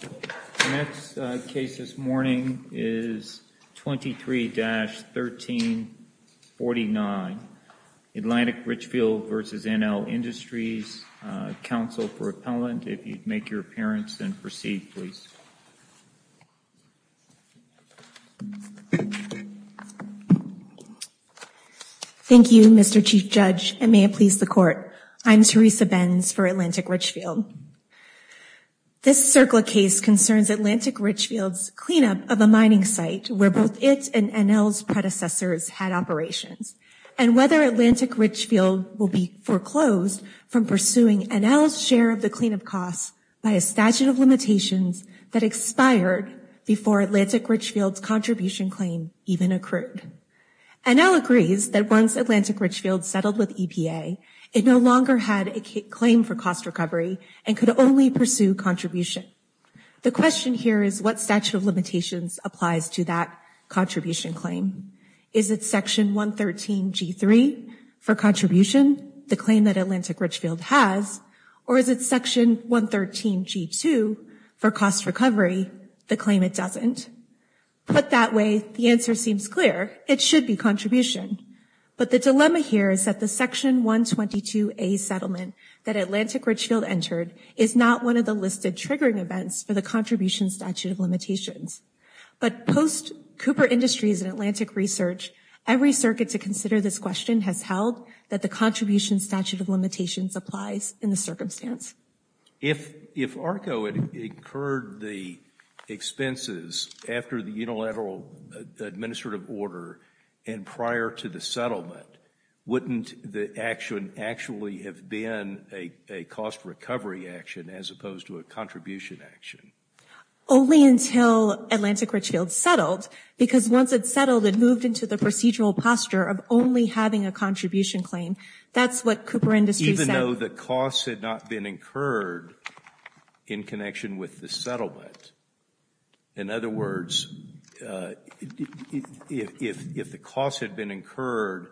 The next case this morning is 23-1349, Atlantic Richfield v. NL Industries, counsel for appellant. If you'd make your appearance and proceed please. Thank you Mr. Chief Judge and may it please the court. I'm Teresa Benz for Atlantic This CERCLA case concerns Atlantic Richfield's cleanup of a mining site where both it and NL's predecessors had operations, and whether Atlantic Richfield will be foreclosed from pursuing NL's share of the cleanup costs by a statute of limitations that expired before Atlantic Richfield's contribution claim even occurred. NL agrees that once Atlantic Richfield settled with EPA, it no longer had a claim for cost recovery and could only pursue contribution. The question here is what statute of limitations applies to that contribution claim? Is it section 113 G3 for contribution, the claim that Atlantic Richfield has, or is it section 113 G2 for cost recovery, the claim it doesn't? Put that way, the answer seems clear. It should be contribution. But the dilemma here is that the section 122A settlement that Atlantic Richfield entered is not one of the listed triggering events for the contribution statute of limitations. But post Cooper Industries and Atlantic Research, every circuit to consider this question has held that the contribution statute of limitations applies in the circumstance. If ARCO had incurred the expenses after the unilateral administrative order and prior to the settlement, wouldn't the action actually have been a cost recovery action as opposed to a contribution action? Only until Atlantic Richfield settled, because once it settled, it moved into the procedural posture of only having a contribution claim. That's what Cooper Industries said. No, the costs had not been incurred in connection with the settlement. In other words, if the costs had been incurred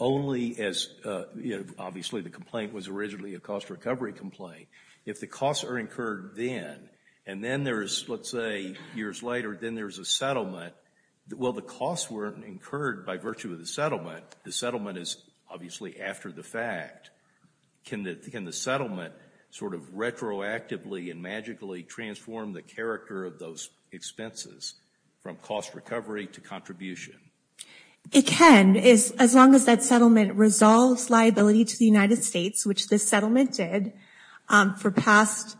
only as, you know, obviously the complaint was originally a cost recovery complaint, if the costs are incurred then, and then there is, let's say, years later, then there's a settlement, well, the costs weren't incurred by virtue of the settlement. The settlement is obviously after the fact. Can the settlement sort of retroactively and magically transform the character of those expenses from cost recovery to contribution? It can. As long as that settlement resolves liability to the United States, which this settlement did for past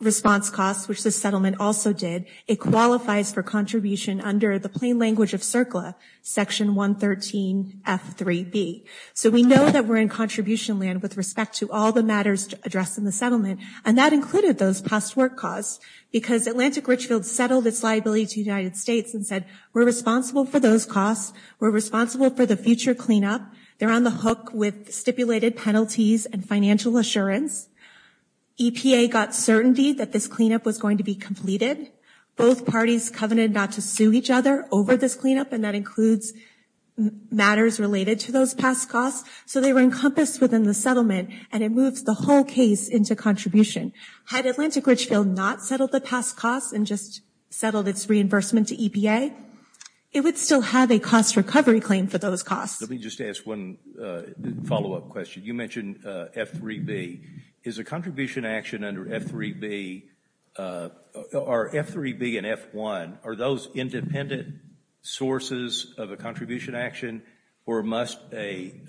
response costs, which the settlement also did, it qualifies for under the plain language of CERCLA, Section 113F3B. So we know that we're in contribution land with respect to all the matters addressed in the settlement, and that included those past work costs, because Atlantic Richfield settled its liability to the United States and said, we're responsible for those costs. We're responsible for the future cleanup. They're on the hook with stipulated penalties and financial assurance. EPA got certainty that this cleanup was going to be completed. Both parties covenanted not to sue each other over this cleanup, and that includes matters related to those past costs. So they were encompassed within the settlement, and it moves the whole case into contribution. Had Atlantic Richfield not settled the past costs and just settled its reimbursement to EPA, it would still have a cost recovery claim for those costs. Let me just ask one follow-up question. You mentioned F3B. Is a contribution action under F3B, are F3B and F1, are those independent sources of a contribution action, or must an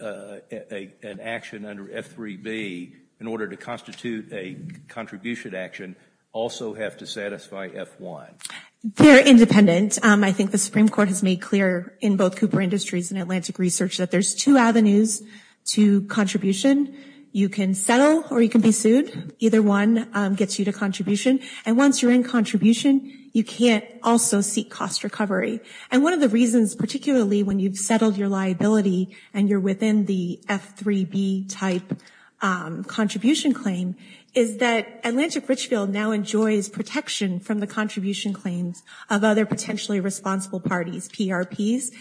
action under F3B, in order to constitute a contribution action, also have to satisfy F1? They're independent. I think the Supreme Court has made clear in both Cooper Industries and Atlantic Research that there's two avenues to contribution. You can settle or you can be sued. Either one gets you to contribution. And once you're in contribution, you can't also seek cost recovery. And one of the reasons, particularly when you've settled your liability and you're within the F3B-type contribution claim, is that Atlantic Richfield now enjoys protection from the contribution claims of other potentially responsible parties, PRPs.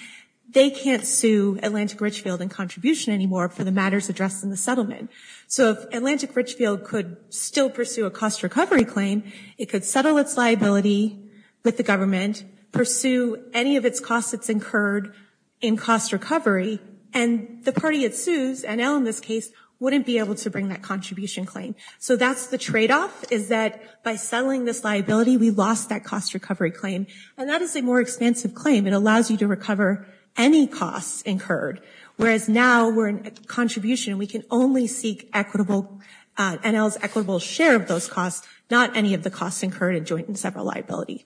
They can't sue Atlantic Richfield in contribution anymore for the matters addressed in the settlement. So if Atlantic Richfield could still pursue a cost recovery claim, it could settle its liability with the government, pursue any of its costs that's incurred in cost recovery, and the party it sues, NL in this case, wouldn't be able to bring that contribution claim. So that's the tradeoff, is that by settling this liability, we lost that cost recovery claim. And that is a more expansive claim. It allows you to recover any costs incurred. Whereas now we're in contribution, we can only seek equitable, NL's equitable share of those costs, not any of the costs incurred in joint and several liability.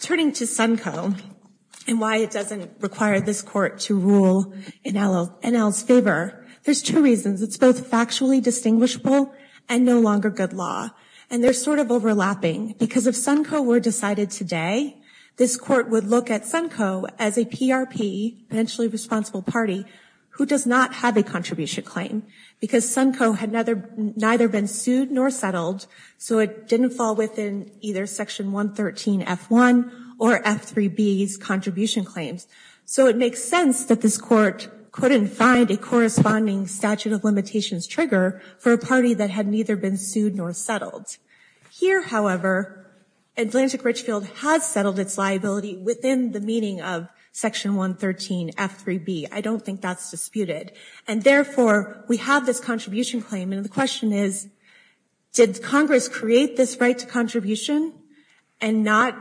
Turning to Sunco and why it doesn't require this court to rule in NL's favor, there's two reasons. It's both factually distinguishable and no longer good law. And they're sort of overlapping. Because if Sunco were decided today, this court would look at Sunco as a PRP, potentially responsible party, who does not have a contribution claim. Because Sunco had neither been sued nor settled, so it didn't fall within either Section 113F1 or F3B's contribution claims. So it makes sense that this court couldn't find a corresponding statute of limitations trigger for a party that had neither been sued nor settled. Here, however, Atlantic Richfield has settled its liability within the meaning of Section 113F3B. I don't think that's disputed. And therefore, we have this contribution claim. And the question is, did Congress create this right to contribution and not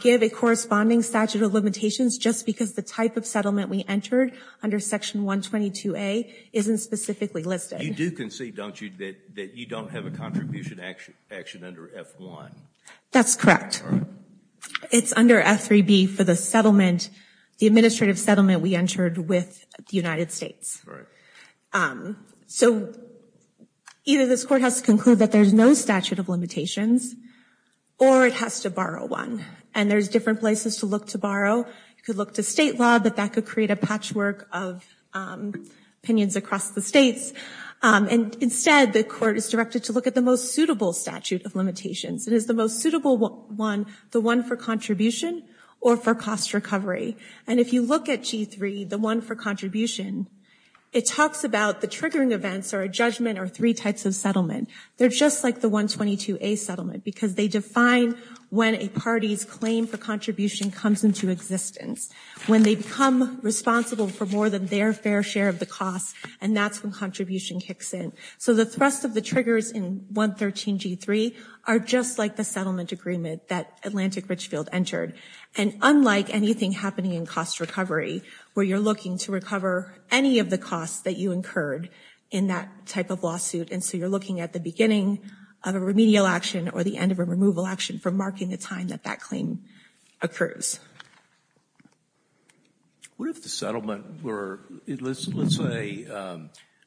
give a corresponding statute of limitations just because the type of settlement we entered under Section 122A isn't specifically listed? You do concede, don't you, that you don't have a contribution action under F1? That's correct. It's under F3B for the settlement, the administrative settlement we entered with the United States. So either this court has to conclude that there's no statute of limitations, or it has to borrow one. And there's different places to look to borrow. You could look to state law that that could create a patchwork of opinions across the states. And instead, the court is directed to look at the most suitable statute of limitations. It is the most suitable one, the one for contribution or for cost recovery. And if you look at G3, the one for contribution, it talks about the triggering events or a judgment or three types of settlement. They're just like the 122A settlement, because they define when a party's claim for contribution comes into existence, when they become responsible for more than their fair share of the costs, and that's when contribution kicks in. So the thrust of the triggers in 113G3 are just like the settlement agreement that Atlantic Richfield entered. And unlike anything happening in cost recovery, where you're looking to recover any of the costs that you incurred in that type of lawsuit, and so you're looking at the beginning of a remedial action or the end of a removal action for marking the time that that claim occurs. What if the settlement were, let's say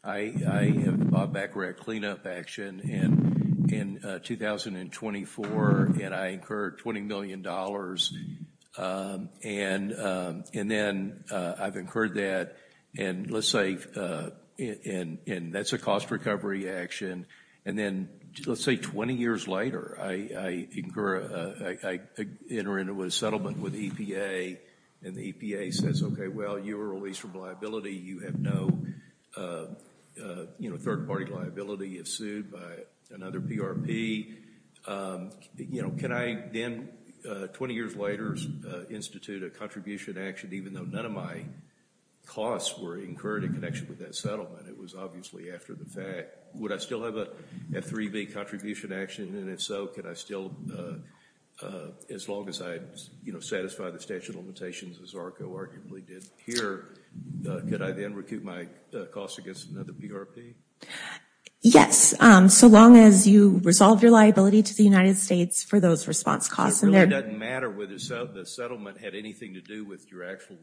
I have a Bob Baccarat cleanup action in 2024, and I incurred $20 million, and then I've incurred that, and let's say, and that's a cost recovery action. And then, let's say 20 years later, I enter into a settlement with the EPA, and the EPA says, okay, well, you were released from liability. You have no third-party liability if sued by another PRP. You know, can I then, 20 years later, institute a contribution action even though none of my costs were incurred in connection with that settlement? It was obviously after the fact. Would I still have a 3B contribution action? And if so, could I still, as long as I, you know, satisfy the statute of limitations, as ARCO arguably did here, could I then recoup my costs against another PRP? Yes, so long as you resolve your liability to the United States for those response costs. It really doesn't matter whether the settlement had anything to do with your actual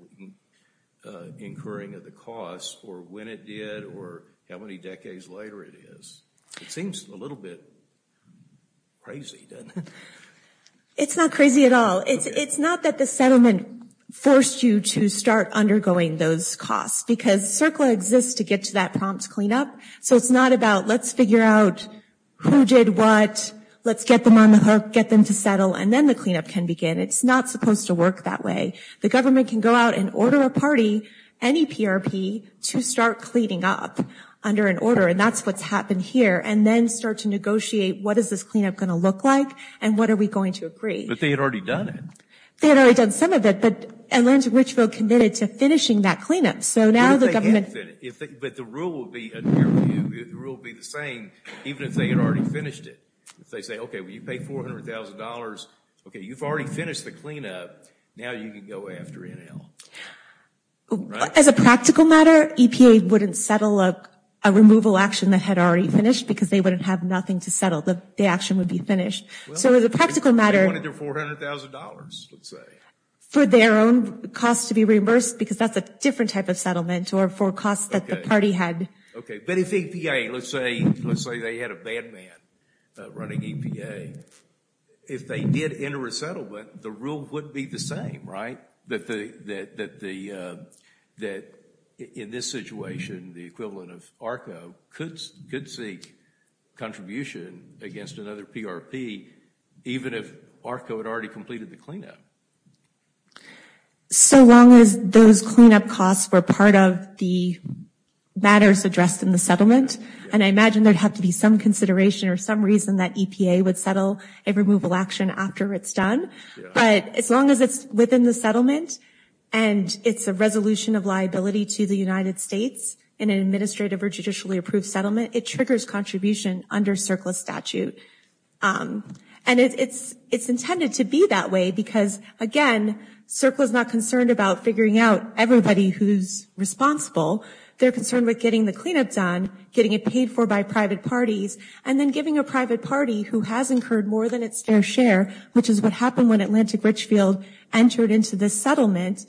incurring of the costs, or when it did, or how many decades later it is. It seems a little bit crazy, doesn't it? It's not crazy at all. It's not that the settlement forced you to start undergoing those costs, because CERCLA exists to get to that prompt cleanup, so it's not about let's figure out who did what, let's get them on the hook, get them to settle, and then the cleanup can begin. It's not supposed to work that way. The government can go out and order a party, any PRP, to start cleaning up under an order, and that's what's happened here, and then start to negotiate what is this cleanup going to look like, and what are we going to agree. But they had already done it. They had already done some of it, but Atlanta Richville committed to finishing that cleanup, so now the government. But the rule would be the same, even if they had already finished it. If they say, okay, well, you paid $400,000, okay, you've already finished the cleanup, now you can go after NL. As a practical matter, EPA wouldn't settle a removal action that had already finished, because they wouldn't have nothing to settle. The action would be finished. So as a practical matter, for their own costs to be reimbursed, because that's a different type of settlement, or for costs that the party had. Okay, but if EPA, let's say they had a bad man running EPA, if they did enter a settlement, the rule would be the same, right? That in this situation, the equivalent of ARCO could seek contribution against another PRP, even if ARCO had already completed the cleanup. So long as those cleanup costs were part of the matters addressed in the settlement, and I imagine there'd have to be some consideration or some reason that EPA would a removal action after it's done. But as long as it's within the settlement, and it's a resolution of liability to the United States in an administrative or judicially approved settlement, it triggers contribution under CERCLA statute. And it's intended to be that way because, again, CERCLA's not concerned about figuring out everybody who's responsible. They're concerned with getting the cleanup done, getting it paid for by private parties, and then giving a private party who has incurred more than its fair share, which is what happened when Atlantic Richfield entered into this settlement,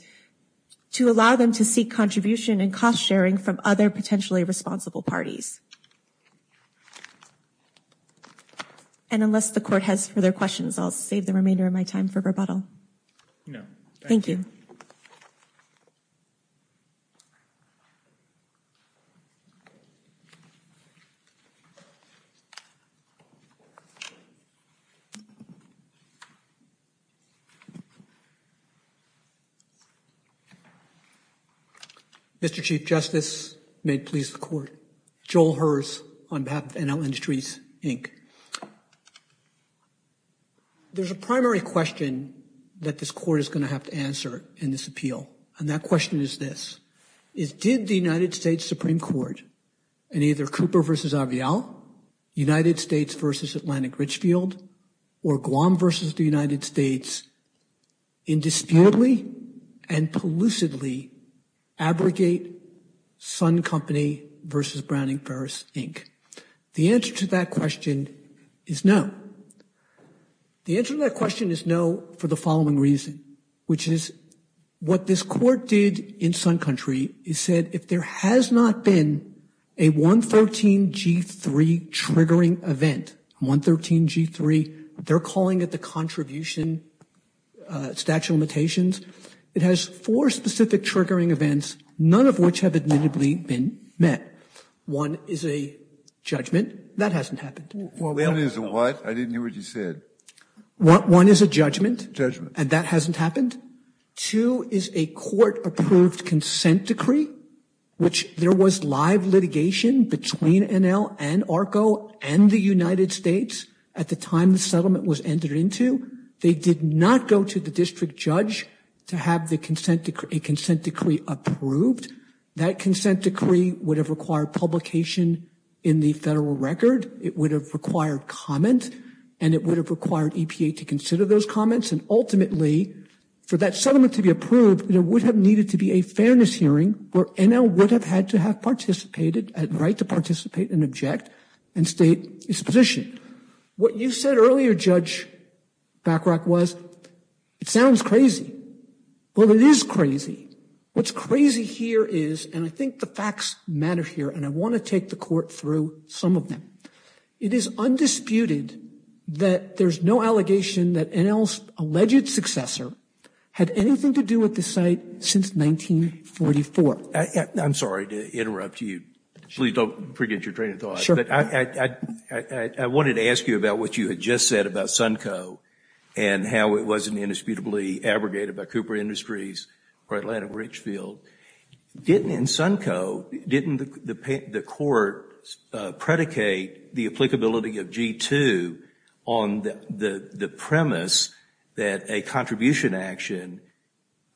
to allow them to seek contribution and cost sharing from other potentially responsible parties. And unless the court has further questions, I'll save the remainder of my time for rebuttal. Thank you. Mr. Chief Justice, may it please the court. Joel Herz on behalf of NL Industries, Inc. There's a primary question that this court is going to have to answer in this appeal, and that question is this, is did the United States Supreme Court in either Cooper v. Avial, United States v. Atlantic Richfield, or Guam v. the United States, indisputably and pellucidly abrogate Sun Company v. Browning Ferris, Inc.? The answer to that question is no. The answer to that question is no for the following reason, which is what this court did in Sun Country is said if there has not been a 113G3 triggering event, 113G3, they're calling it the contribution statute of limitations, it has four specific triggering events, none of which have admittedly been met. One is a judgment. That hasn't happened. One is a what? I didn't hear what you said. One is a judgment, and that hasn't happened. Two is a court-approved consent decree, which there was live litigation between NL and ARCO and the United States at the time the settlement was entered into. They did not go to the district judge to have a consent decree approved. That consent decree would have required publication in the federal record, it would have required comment, and it would have required EPA to consider those comments, and ultimately, for that settlement to be approved, there would have needed to be a fairness hearing where NL would have had to have participated, had the right to participate and object and state its position. What you said earlier, Judge Backrock, was it sounds crazy. Well, it is crazy. What's crazy here is, and I think the facts matter here, and I want to take the through some of them. It is undisputed that there's no allegation that NL's alleged successor had anything to do with the site since 1944. I'm sorry to interrupt you. Please don't forget your train of thought, but I wanted to ask you about what you had just said about Sunco and how it wasn't indisputably abrogated by Cooper Industries or Atlanta Richfield. Didn't, in Sunco, didn't the court predicate the applicability of G-2 on the premise that a contribution action,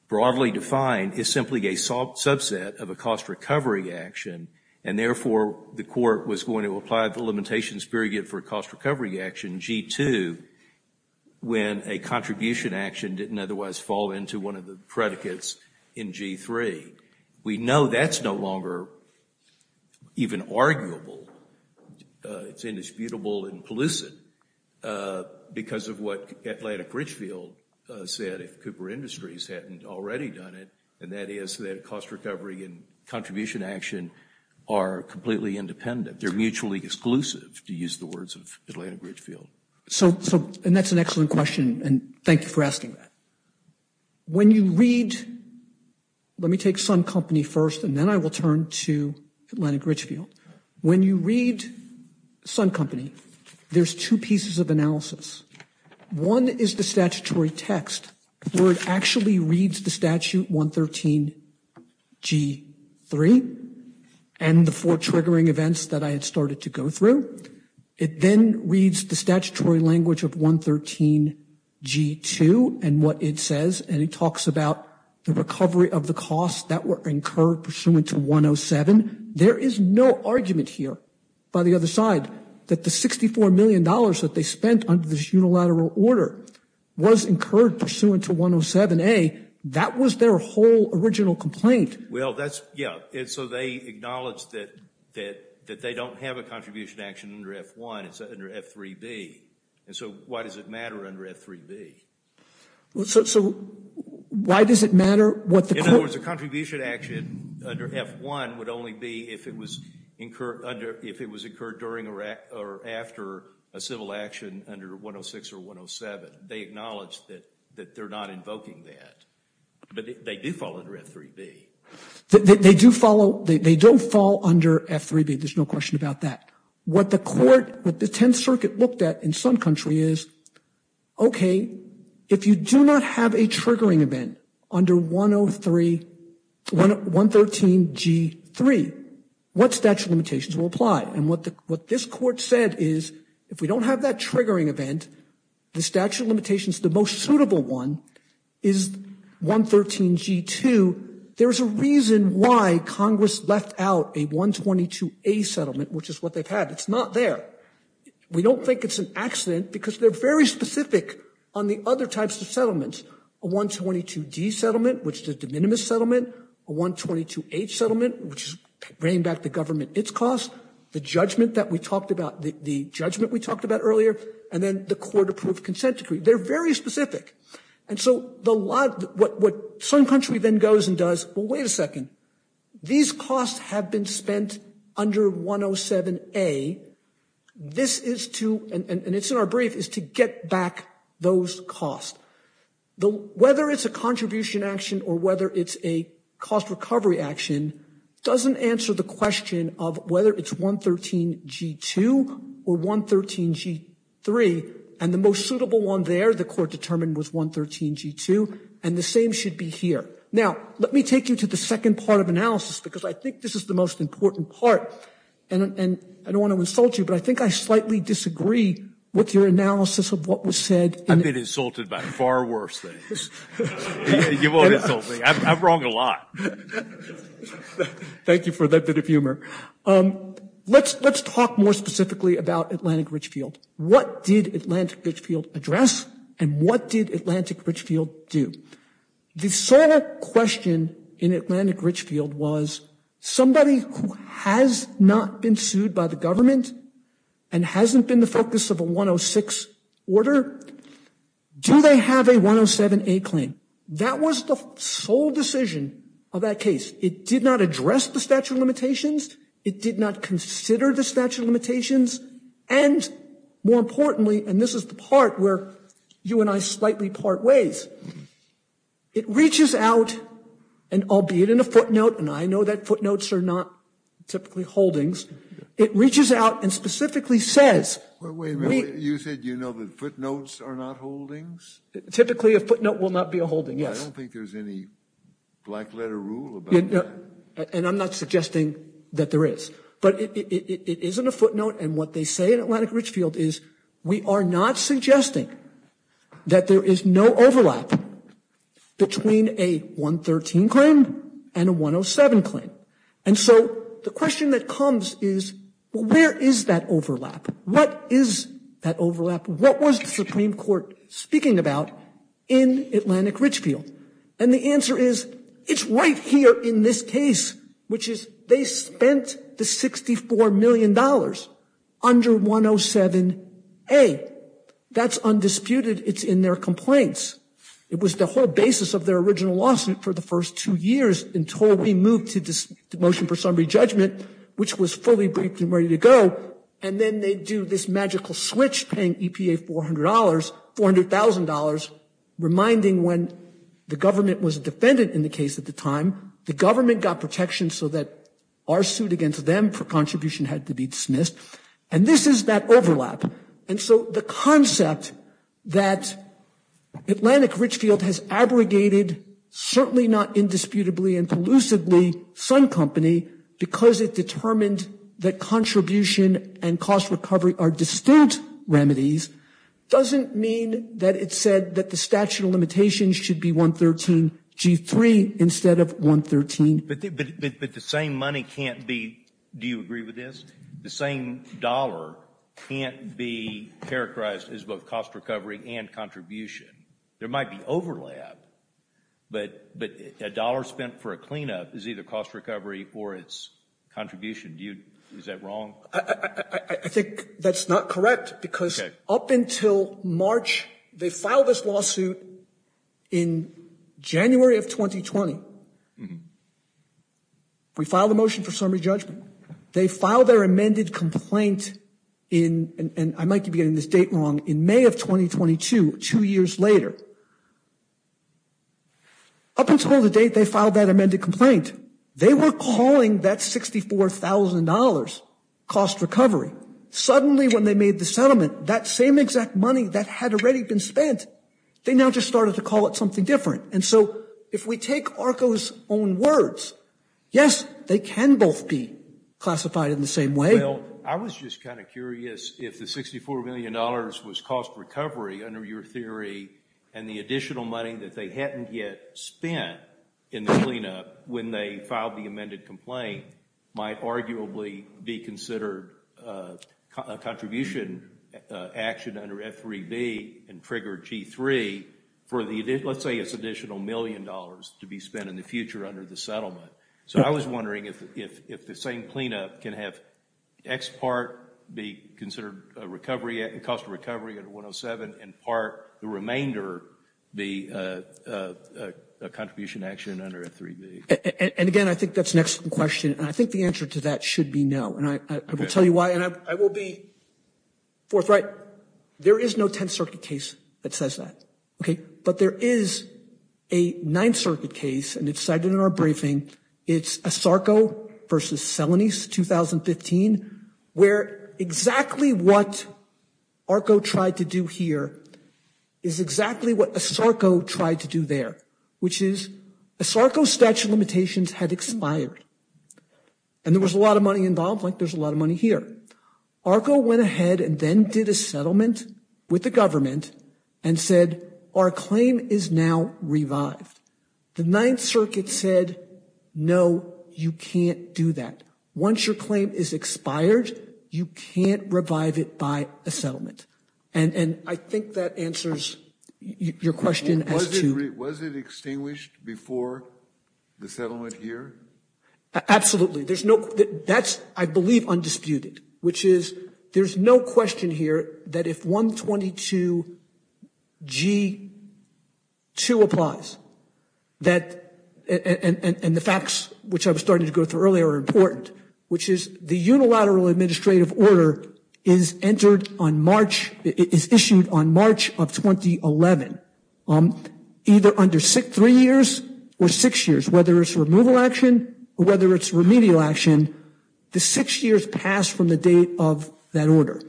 broadly defined, is simply a subset of a cost recovery action, and therefore, the court was going to apply the limitations period for a cost recovery action, G-2, when a contribution action didn't otherwise fall into one of the predicates in G-3. We know that's no longer even arguable. It's indisputable, implicit, because of what Atlantic Richfield said if Cooper Industries hadn't already done it, and that is that cost recovery and contribution action are completely independent. They're mutually exclusive, to use the words of Atlantic Richfield. So, and that's an excellent question, and thank you for asking that. When you read, let me take Sun Company first, and then I will turn to Atlantic Richfield. When you read Sun Company, there's two pieces of analysis. One is the statutory text, where it reads the statute 113 G-3, and the four triggering events that I had started to go through. It then reads the statutory language of 113 G-2, and what it says, and it talks about the recovery of the costs that were incurred pursuant to 107. There is no argument here, by the other side, that the $64 million that they spent under this unilateral order was incurred pursuant to 107, that was their whole original complaint. Well, that's, yeah, and so they acknowledge that they don't have a contribution action under F-1, it's under F-3B, and so why does it matter under F-3B? So, why does it matter what the- In other words, the contribution action under F-1 would only be if it was incurred during or after a civil action under 106 or 107. They acknowledge that they're not invoking that, but they do fall under F-3B. They do follow, they don't fall under F-3B, there's no question about that. What the court, what the Tenth Circuit looked at in some country is, okay, if you do not have a triggering event under 103, 113 G-3, what statute limitations will apply? And what this court said is, if we don't have that triggering event, the statute limitations, the most suitable one is 113 G-2, there's a reason why Congress left out a 122-A settlement, which is what they've had. It's not there. We don't think it's an accident because they're very specific on the other types of settlements. A 122-D settlement, which is the de minimis settlement, a 122-H settlement, which is bringing back the government its costs, the judgment that we talked about, the judgment we talked about earlier, and then the court-approved consent decree. They're very specific. And so the lot, what some country then goes and does, well, wait a second. These costs have been spent under 107-A. This is to, and it's in our brief, is to get back those costs. Whether it's a contribution action or whether it's a cost recovery action doesn't answer the question of whether it's 113 G-2 or 113 G-3 and the most suitable one there, the court determined, was 113 G-2 and the same should be here. Now, let me take you to the second part of analysis because I think this is the most important part. And I don't want to insult you, but I think I slightly disagree with your analysis of what was said. I've been insulted by far worse things. You won't insult me. I'm wrong a lot. Thank you for that bit of humor. Let's talk more specifically about Atlantic Richfield. What did Atlantic Richfield address and what did Atlantic Richfield do? The sole question in Atlantic Richfield was somebody who has not been sued by the government and hasn't been the focus of a 106 order, do they have a 107-A claim? That was the sole decision of that case. It did not address the statute of limitations. It did not consider the statute of limitations. And more importantly, and this is the part where you and I slightly part ways, it reaches out and albeit in a footnote, and I know that footnotes are not typically holdings, it reaches out and specifically says... Wait a minute. You said you know that footnotes are not holdings? Typically a footnote will not be a holding, yes. I don't think there's any black letter rule about that. And I'm not suggesting that there is. But it isn't a footnote. And what they say in Atlantic Richfield is we are not suggesting that there is no overlap between a 113 claim and a 107 claim. And so the question that comes is where is that overlap? What is that overlap? What was the Supreme Court speaking about in Atlantic Richfield? And the answer is it's right here in this case, which is they spent the $64 million under 107-A. That's undisputed. It's in their complaints. It was the whole basis of their original lawsuit for the first two years until we moved to the motion for summary judgment, which was fully briefed and ready to go. And then they do this magical switch paying EPA $400, $400,000, reminding when the government was a defendant in the case at the time, the government got protection so that our suit against them for contribution had to be dismissed. And this is that overlap. And so the concept that Atlantic Richfield has abrogated, certainly not indisputably and collusively, Sun Company because it determined that contribution and cost recovery are distinct remedies, doesn't mean that it said that the statute of limitations should be 113-G3 instead of 113-A. But the same money can't be, do you agree with this? The same dollar can't be characterized as both cost recovery and contribution. There might be overlap, but a dollar spent for a cleanup is either cost recovery or it's contribution. Is that wrong? I think that's not correct because up until March, they filed this lawsuit in January of 2020. We filed the motion for summary judgment. They filed their amended complaint in, and I might be getting this date wrong, in May of 2022, two years later. Up until the date they filed that amended complaint, they were calling that $64,000 cost recovery. Suddenly when they made the settlement, that same exact money that had already been spent, they now just started to call it something different. And so if we take ARCO's own words, yes, they can both be classified in the same way. Well, I was just kind of curious if the $64 million was cost recovery under your theory and the additional money that they hadn't yet spent in the cleanup when they filed the amended complaint might arguably be considered a contribution action under F3B and trigger G3 for the, let's say it's additional million dollars to be spent in the future under the settlement. So I was wondering if the same cleanup can have X part be considered a recovery, cost of recovery under 107, and part the remainder be a contribution action under F3B. And again, I think that's an excellent question, and I think the answer to that should be no. And I will tell you why, and I will be forthright. There is no Tenth Circuit case that says that, okay? But there is a Ninth Circuit case, and it's cited in our briefing. It's ASARCO versus Celanese, 2015, where exactly what ARCO tried to do here is exactly what ASARCO tried to do there, which is ASARCO's statute of limitations had expired, and there was a lot of money involved, like there's a lot of money here. ARCO went ahead and then did a settlement with the government and said, our claim is now revived. The Ninth Circuit said, no, you can't do that. Once your claim is expired, you can't revive it by a settlement. And I think that answers your question as to- Was it extinguished before the settlement here? Absolutely. There's no, that's, I believe, undisputed, which is there's no question here that if 122 G2 applies, that, and the facts which I was starting to go through earlier are important, which is the unilateral administrative order is entered on March, is issued on March of 2011, either under three years or six years, whether it's a removal action or whether it's remedial action, the six years pass from the date of that order.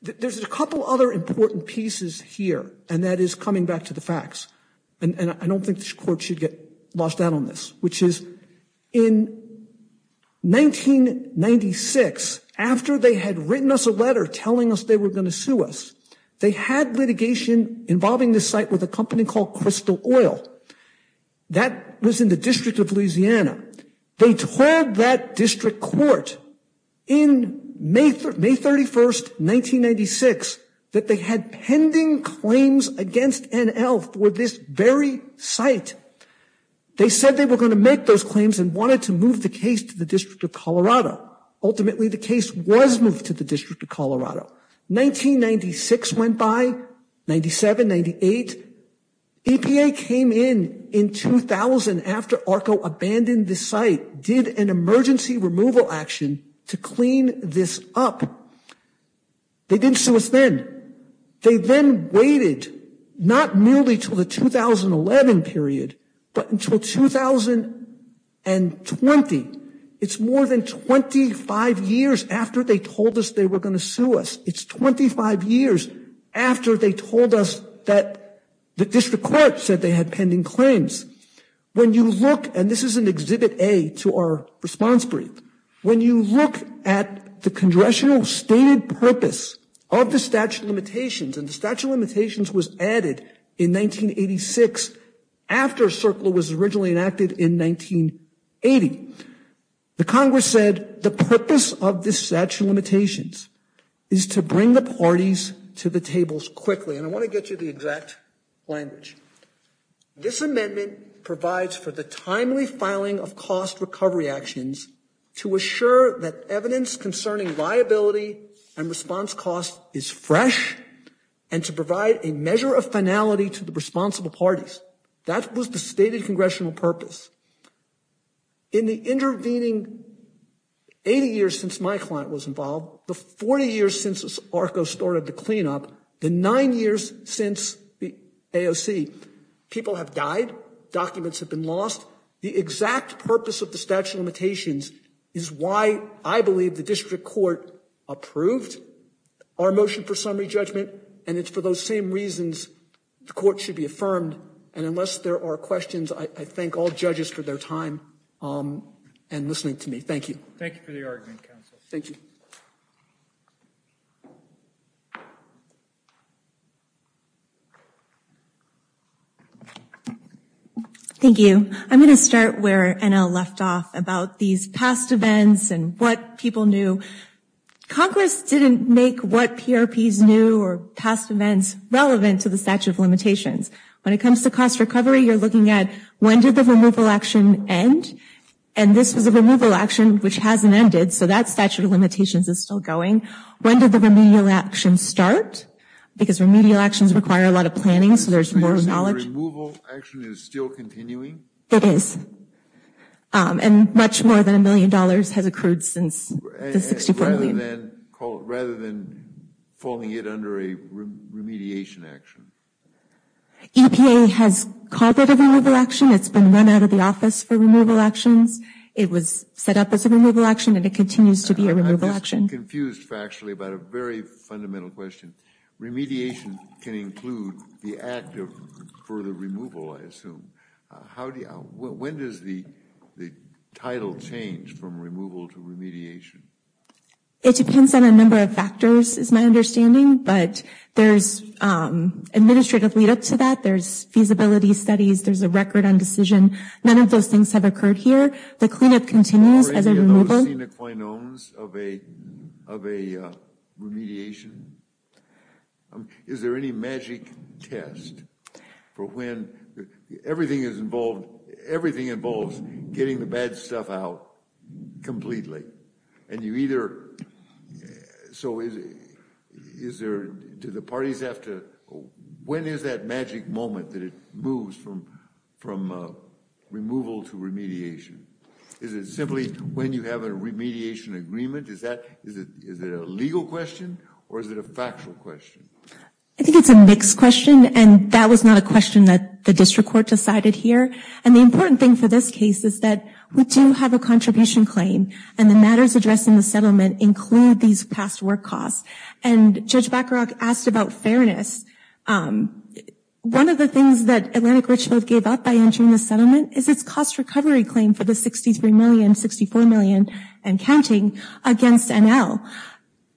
There's a couple other important pieces here, and that is coming back to the facts. And I don't think this court should get lost out on this, which is in 1996, after they had written us a letter telling us they were going to sue us, they had litigation involving the site with a company called Crystal Oil. That was in the District of Louisiana. They told that district court in May 31st, 1996, that they had pending claims against NL for this very site. They said they were going to make those claims and wanted to move the case to the District of Colorado. Ultimately, the case was moved to the District of Colorado. 1996 went by, 97, 98, EPA came in in 2000 after ARCO abandoned the site, did an emergency removal action to clean this up. They didn't sue us then. They then waited, not merely till the 2011 period, but until 2020. It's more than 25 years after they told us they were going to sue us. It's 25 years after they told us that the district court said they had pending claims. When you look, and this is an Exhibit A to our response brief, when you look at the congressional stated purpose of the statute of limitations, and the statute of limitations was added in 1986 after CERCLA was originally enacted in 1980, the Congress said the purpose of the statute of limitations is to bring the parties to the tables quickly. And I want to get you the exact language. This amendment provides for the timely filing of cost recovery actions to assure that evidence concerning liability and response cost is fresh, and to provide a measure of finality to the responsible parties. That was the stated congressional purpose. In the intervening 80 years since my client was involved, the 40 years since ARCO started the cleanup, the nine years since the AOC, people have died, documents have been lost. The exact purpose of the statute of limitations is why I believe the court approved our motion for summary judgment, and it's for those same reasons the court should be affirmed. And unless there are questions, I thank all judges for their time and listening to me. Thank you. Thank you for the argument, counsel. Thank you. Thank you. I'm going to start where Anna left off about these past events and what people knew. Congress didn't make what PRPs knew or past events relevant to the statute of limitations. When it comes to cost recovery, you're looking at when did the removal action end, and this was a removal action which hasn't ended, so that statute of limitations is still going. When did the remedial action start? Because remedial actions require a lot of planning, so there's more knowledge. Removal action is still continuing? It is, and much more than a million dollars has accrued since the 64 million. Rather than falling it under a remediation action? EPA has called it a removal action, it's been run out of the office for removal actions, it was set up as a removal action, and it continues to be a removal action. I'm just confused factually about a very fundamental question. Remediation can include the act of further removal, I assume. When does the title change from removal to remediation? It depends on a number of factors is my understanding, but there's administrative lead up to that, there's feasibility studies, there's a record on decision. None of those things have occurred here. The cleanup continues as a removal. Have you seen the quinones of a remediation? Is there any magic test for when everything is involved, everything involves getting the bad stuff out completely, and you either, so is there, do the parties have to, when is that magic moment that it moves from removal to remediation? Is it simply when you have a remediation agreement, is that, is it a legal question, or is it a factual question? I think it's a mixed question, and that was not a question that the district court decided here, and the important thing for this case is that we do have a contribution claim, and the matters addressed in the settlement include these past work costs, and Judge Bacharach asked about fairness. One of the things that Atlantic Richmond gave up by the settlement is its cost recovery claim for the 63 million, 64 million, and counting against NL.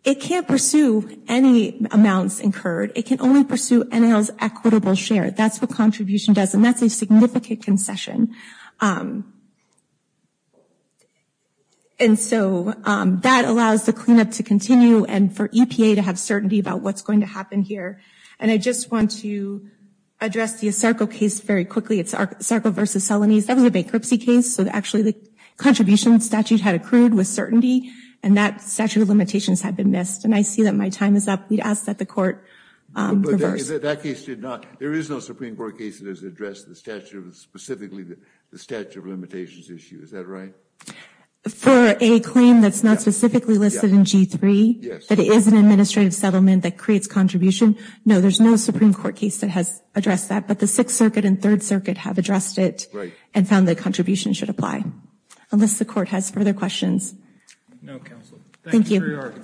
It can't pursue any amounts incurred. It can only pursue NL's equitable share. That's what contribution does, and that's a significant concession, and so that allows the cleanup to continue, and for EPA to have certainty about what's going to happen here, and I just want to address the Sarko case very quickly. It's Sarko versus Selanese. That was a bankruptcy case, so actually the contribution statute had accrued with certainty, and that statute of limitations had been missed, and I see that my time is up. We'd ask that the court reverse. That case did not, there is no Supreme Court case that has addressed the statute of, specifically the statute of limitations issue, is that right? For a claim that's not specifically listed in G3, that is an administrative settlement that creates contribution, no, there's no Supreme Court case that has addressed that, but the Sixth Circuit and Third Circuit have addressed it and found that contribution should apply. Unless the court has further questions. No, counsel. Thank you.